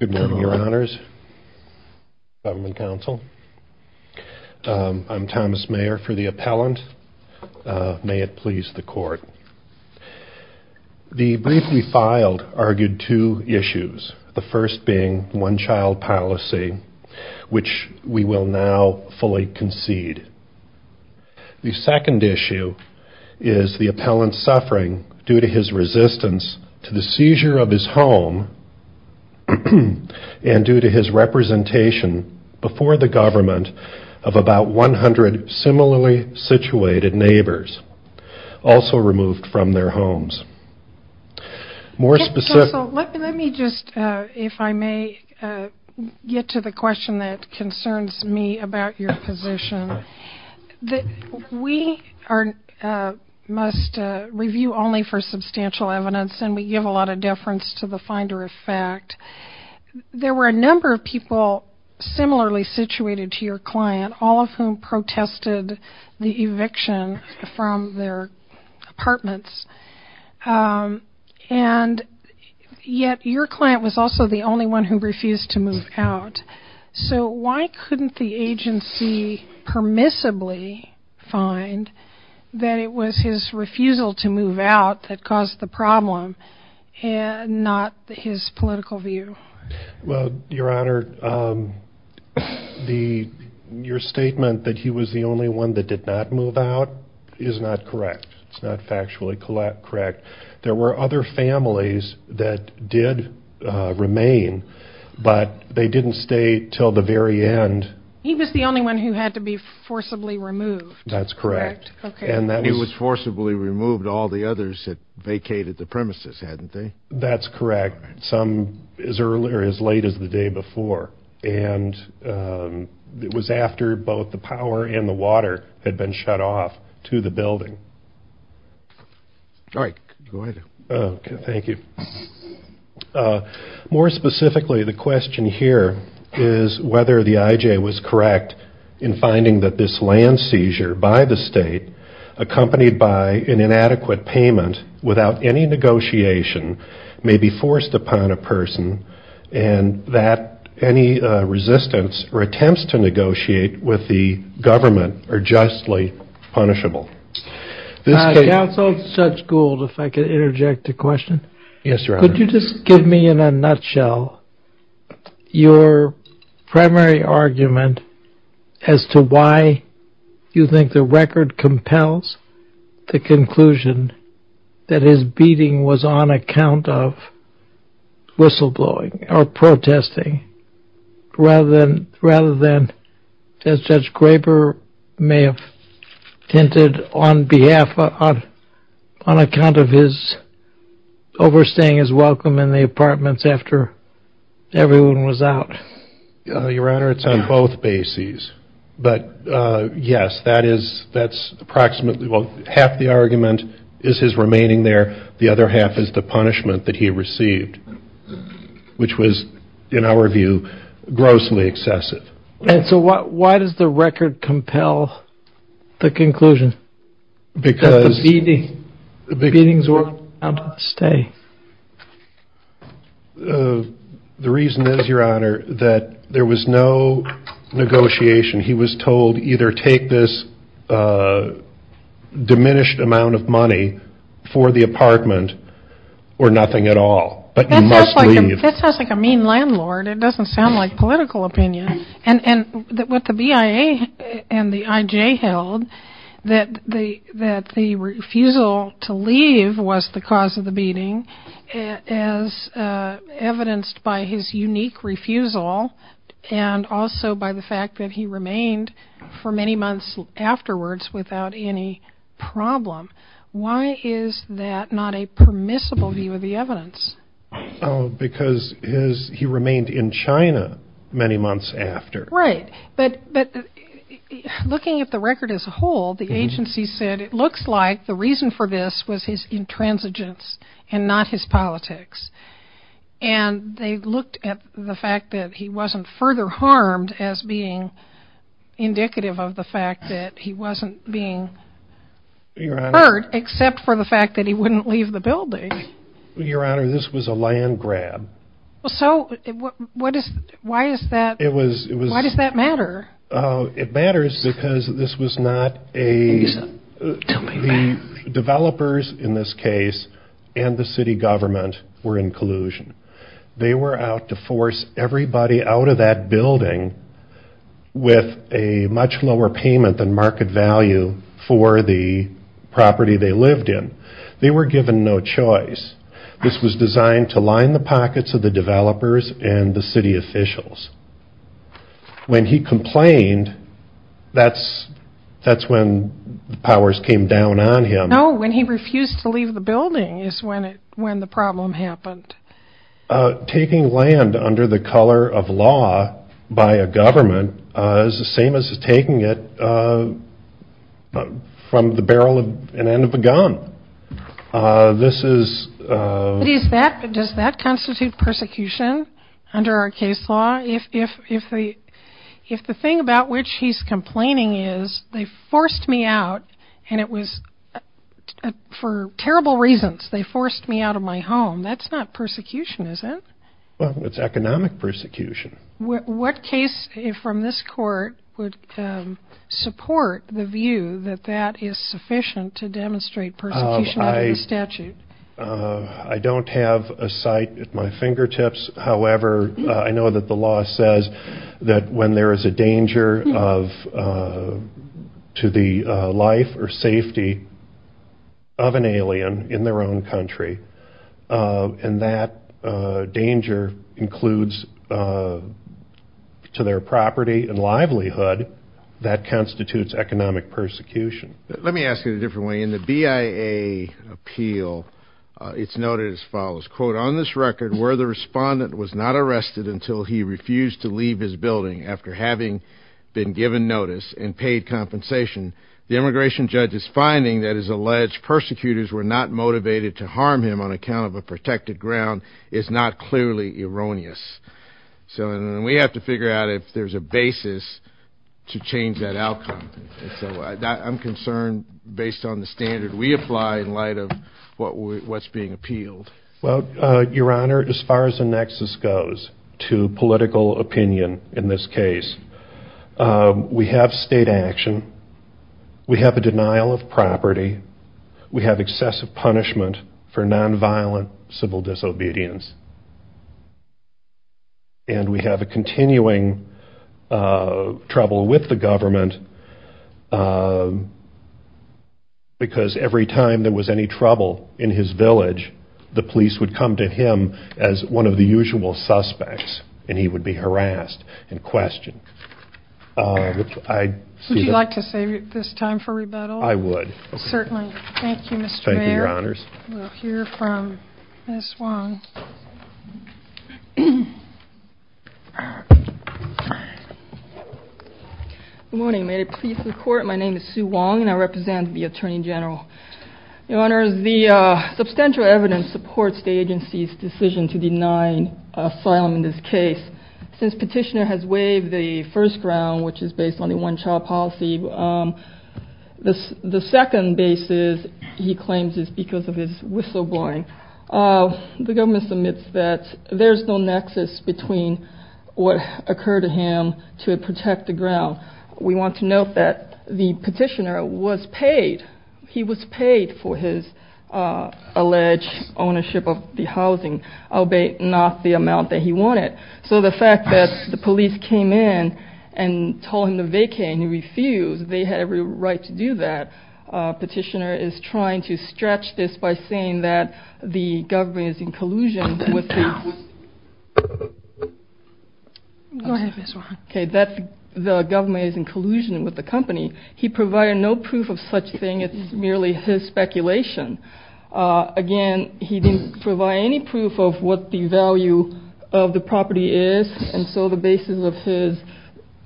Good morning, your honors. I'm Thomas Mayer for the appellant. May it please the court. The brief we filed argued two issues, the first being one-child policy, which we will now fully concede. The second issue is the appellant's suffering due to his resistance to the seizure of his home and due to his representation before the government of about 100 similarly situated neighbors, also removed from their homes. Let me just, if I may, get to the question that concerns me about your position. We must review only for substantial evidence and we give a lot of deference to the finder of fact. There were a number of people similarly situated to your client, all of whom protested the And yet your client was also the only one who refused to move out. So why couldn't the agency permissibly find that it was his refusal to move out that caused the problem and not his political view? Well, your honor, your statement that he was the only one that did not move out is not correct. It's not factually correct. There were other families that did remain, but they didn't stay till the very end. He was the only one who had to be forcibly removed. That's correct. He was forcibly removed. All the others had vacated the premises, hadn't they? That's correct. Some as late as the day before. And it was after both the power and the water had been shut off to the building. All right, go ahead. Okay, thank you. More specifically, the question here is whether the IJ was correct in finding that this land seizure by the state, accompanied by an inadequate payment without any negotiation, may be forced upon a person and that any resistance or attempts to negotiate with the government are justly punishable. Counsel Judge Gould, if I could interject a question. Yes, your honor. Could you just give me in a nutshell your primary argument as to why you think the record compels the conclusion that his beating was on account of whistleblowing or protesting rather than Judge Graber may have hinted on behalf, on account of his overstaying his welcome in the apartments after everyone was out? Your honor, it's on both bases. But yes, that's approximately, well half the argument is his interview, grossly excessive. And so why does the record compel the conclusion that the beatings were on account of the stay? The reason is, your honor, that there was no negotiation. He was told either take this diminished amount of money for the apartment or nothing at all. But you must leave. That sounds like a mean landlord. It doesn't sound like political opinion. And what the BIA and the IJ held, that the refusal to leave was the cause of the beating as evidenced by his unique refusal and also by the fact that he remained for many months afterwards without any problem. Why is that not a permissible view of the evidence? Because he remained in China many months after. Right. But looking at the record as a whole, the agency said it looks like the reason for this was his intransigence and not his politics. And they looked at the fact that he wasn't further harmed as being indicative of the fact that he wasn't being hurt except for the fact that he wouldn't leave the building. Your honor, this was a land grab. So why does that matter? It matters because this was not a... Tell me about it. The developers in this case and the city government were in collusion. They were out to force everybody out of that building with a much lower payment than market value for the property they lived in. They were given no choice. This was designed to line the pockets of the developers and the city officials. When he complained, that's when the powers came down on him. No, when he refused to leave the building is when the problem happened. Taking land under the color of law by a government is the same as taking it from the barrel of an end of a gun. This is... Does that constitute persecution under our case law? If the thing about which he's complaining is they forced me out and it was for terrible reasons. They forced me out of my home. That's not persecution, is it? It's economic persecution. What case from this court would support the view that that is sufficient to demonstrate persecution under the statute? I don't have a site at my fingertips. However, I know that the law says that when there is a danger to the life or safety of an alien in their own country and that danger includes to their property and livelihood, that constitutes economic persecution. Let me ask it a different way. In the BIA appeal, it's noted as follows. On this record, where the respondent was not arrested until he refused to leave his building after having been given notice and paid compensation, the immigration judge's finding that his alleged persecutors were not motivated to harm him on account of a protected ground is not clearly erroneous. We have to figure out if there's a basis to change that outcome. I'm concerned based on the standard we apply in light of what's being appealed. Your Honor, as far as the nexus goes to political opinion in this case, we have state action. We have a denial of property. We have excessive punishment for nonviolent civil disobedience. And we have a continuing trouble with the government because every time there was any trouble in his village, the police would come to him as one of the usual suspects and he would be harassed and questioned. Would you like to save this time for rebuttal? I would. Certainly. Thank you, Mr. Baird. Thank you, Your Honors. We'll hear from Ms. Wong. Good morning. May it please the Court, my name is Sue Wong and I represent the Attorney General. Your Honors, the substantial evidence supports the agency's decision to deny asylum in this case. Since Petitioner has waived the first ground, which is based on the one-child policy, the second basis, he claims, is because of his whistleblowing. The government submits that there's no nexus between what occurred to him to protect the ground. We want to note that the Petitioner was paid. He was paid for his alleged ownership of the housing, albeit not the amount that he wanted. So the fact that the police came in and told him to vacate and he refused, they had every right to do that. Petitioner is trying to stretch this by saying that the government is in collusion with the company. He provided no proof of such thing. It's merely his speculation. Again, he didn't provide any proof of what the value of the property is and so the basis of his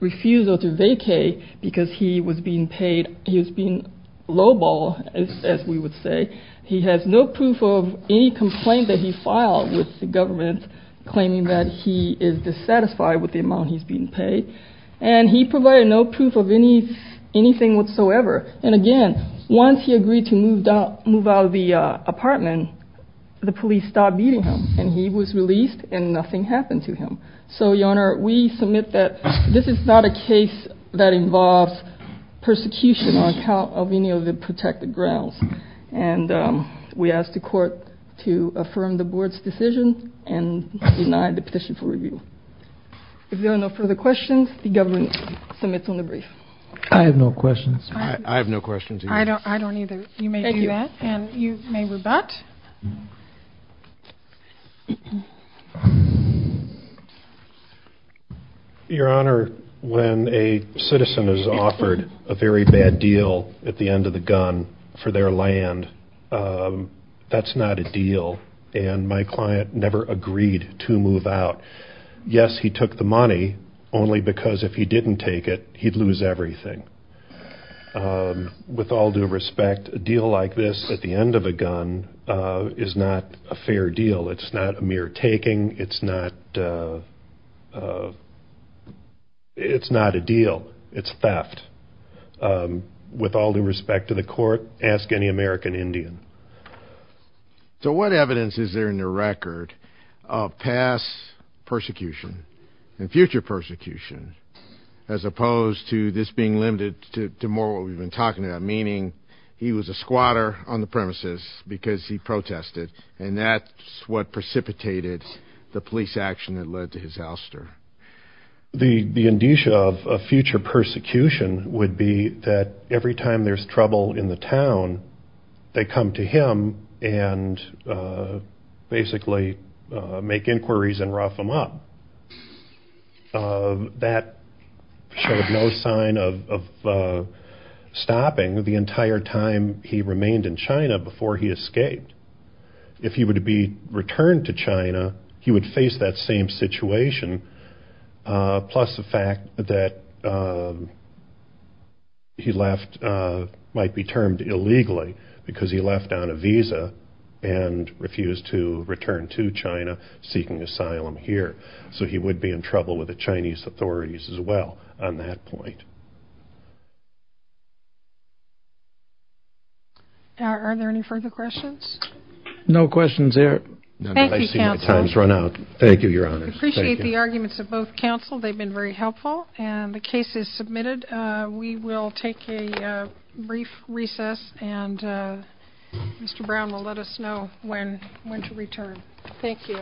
refusal to vacate because he was being paid, he was being lowball, as we would say. He has no proof of any complaint that he filed with the government claiming that he is dissatisfied with the amount he's being paid and he provided no proof of anything whatsoever. And again, once he agreed to move out of the apartment, the police stopped beating him and he was released and nothing happened to him. So, Your Honor, we submit that this is not a case that involves persecution on account of any of the protected grounds and we ask the court to affirm the board's decision and deny the petition for review. If there are no further questions, the government submits on the brief. I have no questions. I have no questions either. I don't either. Thank you. You may do that and you may rebut. Your Honor, when a citizen is offered a very bad deal at the end of the gun for their land, that's not a deal and my client never agreed to move out. Yes, he took the money, only because if he didn't take it, he'd lose everything. With all due respect, a deal like this at the end of a gun is not a fair deal. It's not a mere taking. It's not a deal. It's theft. With all due respect to the court, ask any American Indian. So what evidence is there in the record of past persecution and future persecution as opposed to this being limited to more what we've been talking about, meaning he was a squatter on the premises because he protested and that's what precipitated the police action that led to his ouster? The indicia of future persecution would be that every time there's trouble in the town, they come to him and basically make inquiries and rough him up. That showed no sign of stopping the entire time he remained in China before he escaped. If he were to be returned to China, he would face that same situation, plus the fact that he might be termed illegally because he left on a visa and refused to return to China seeking asylum here. So he would be in trouble with the Chinese authorities as well on that point. Are there any further questions? No questions there. Thank you, counsel. I appreciate the arguments of both counsel. They've been very helpful and the case is submitted. We will take a brief recess and Mr. Brown will let us know when to return. Thank you.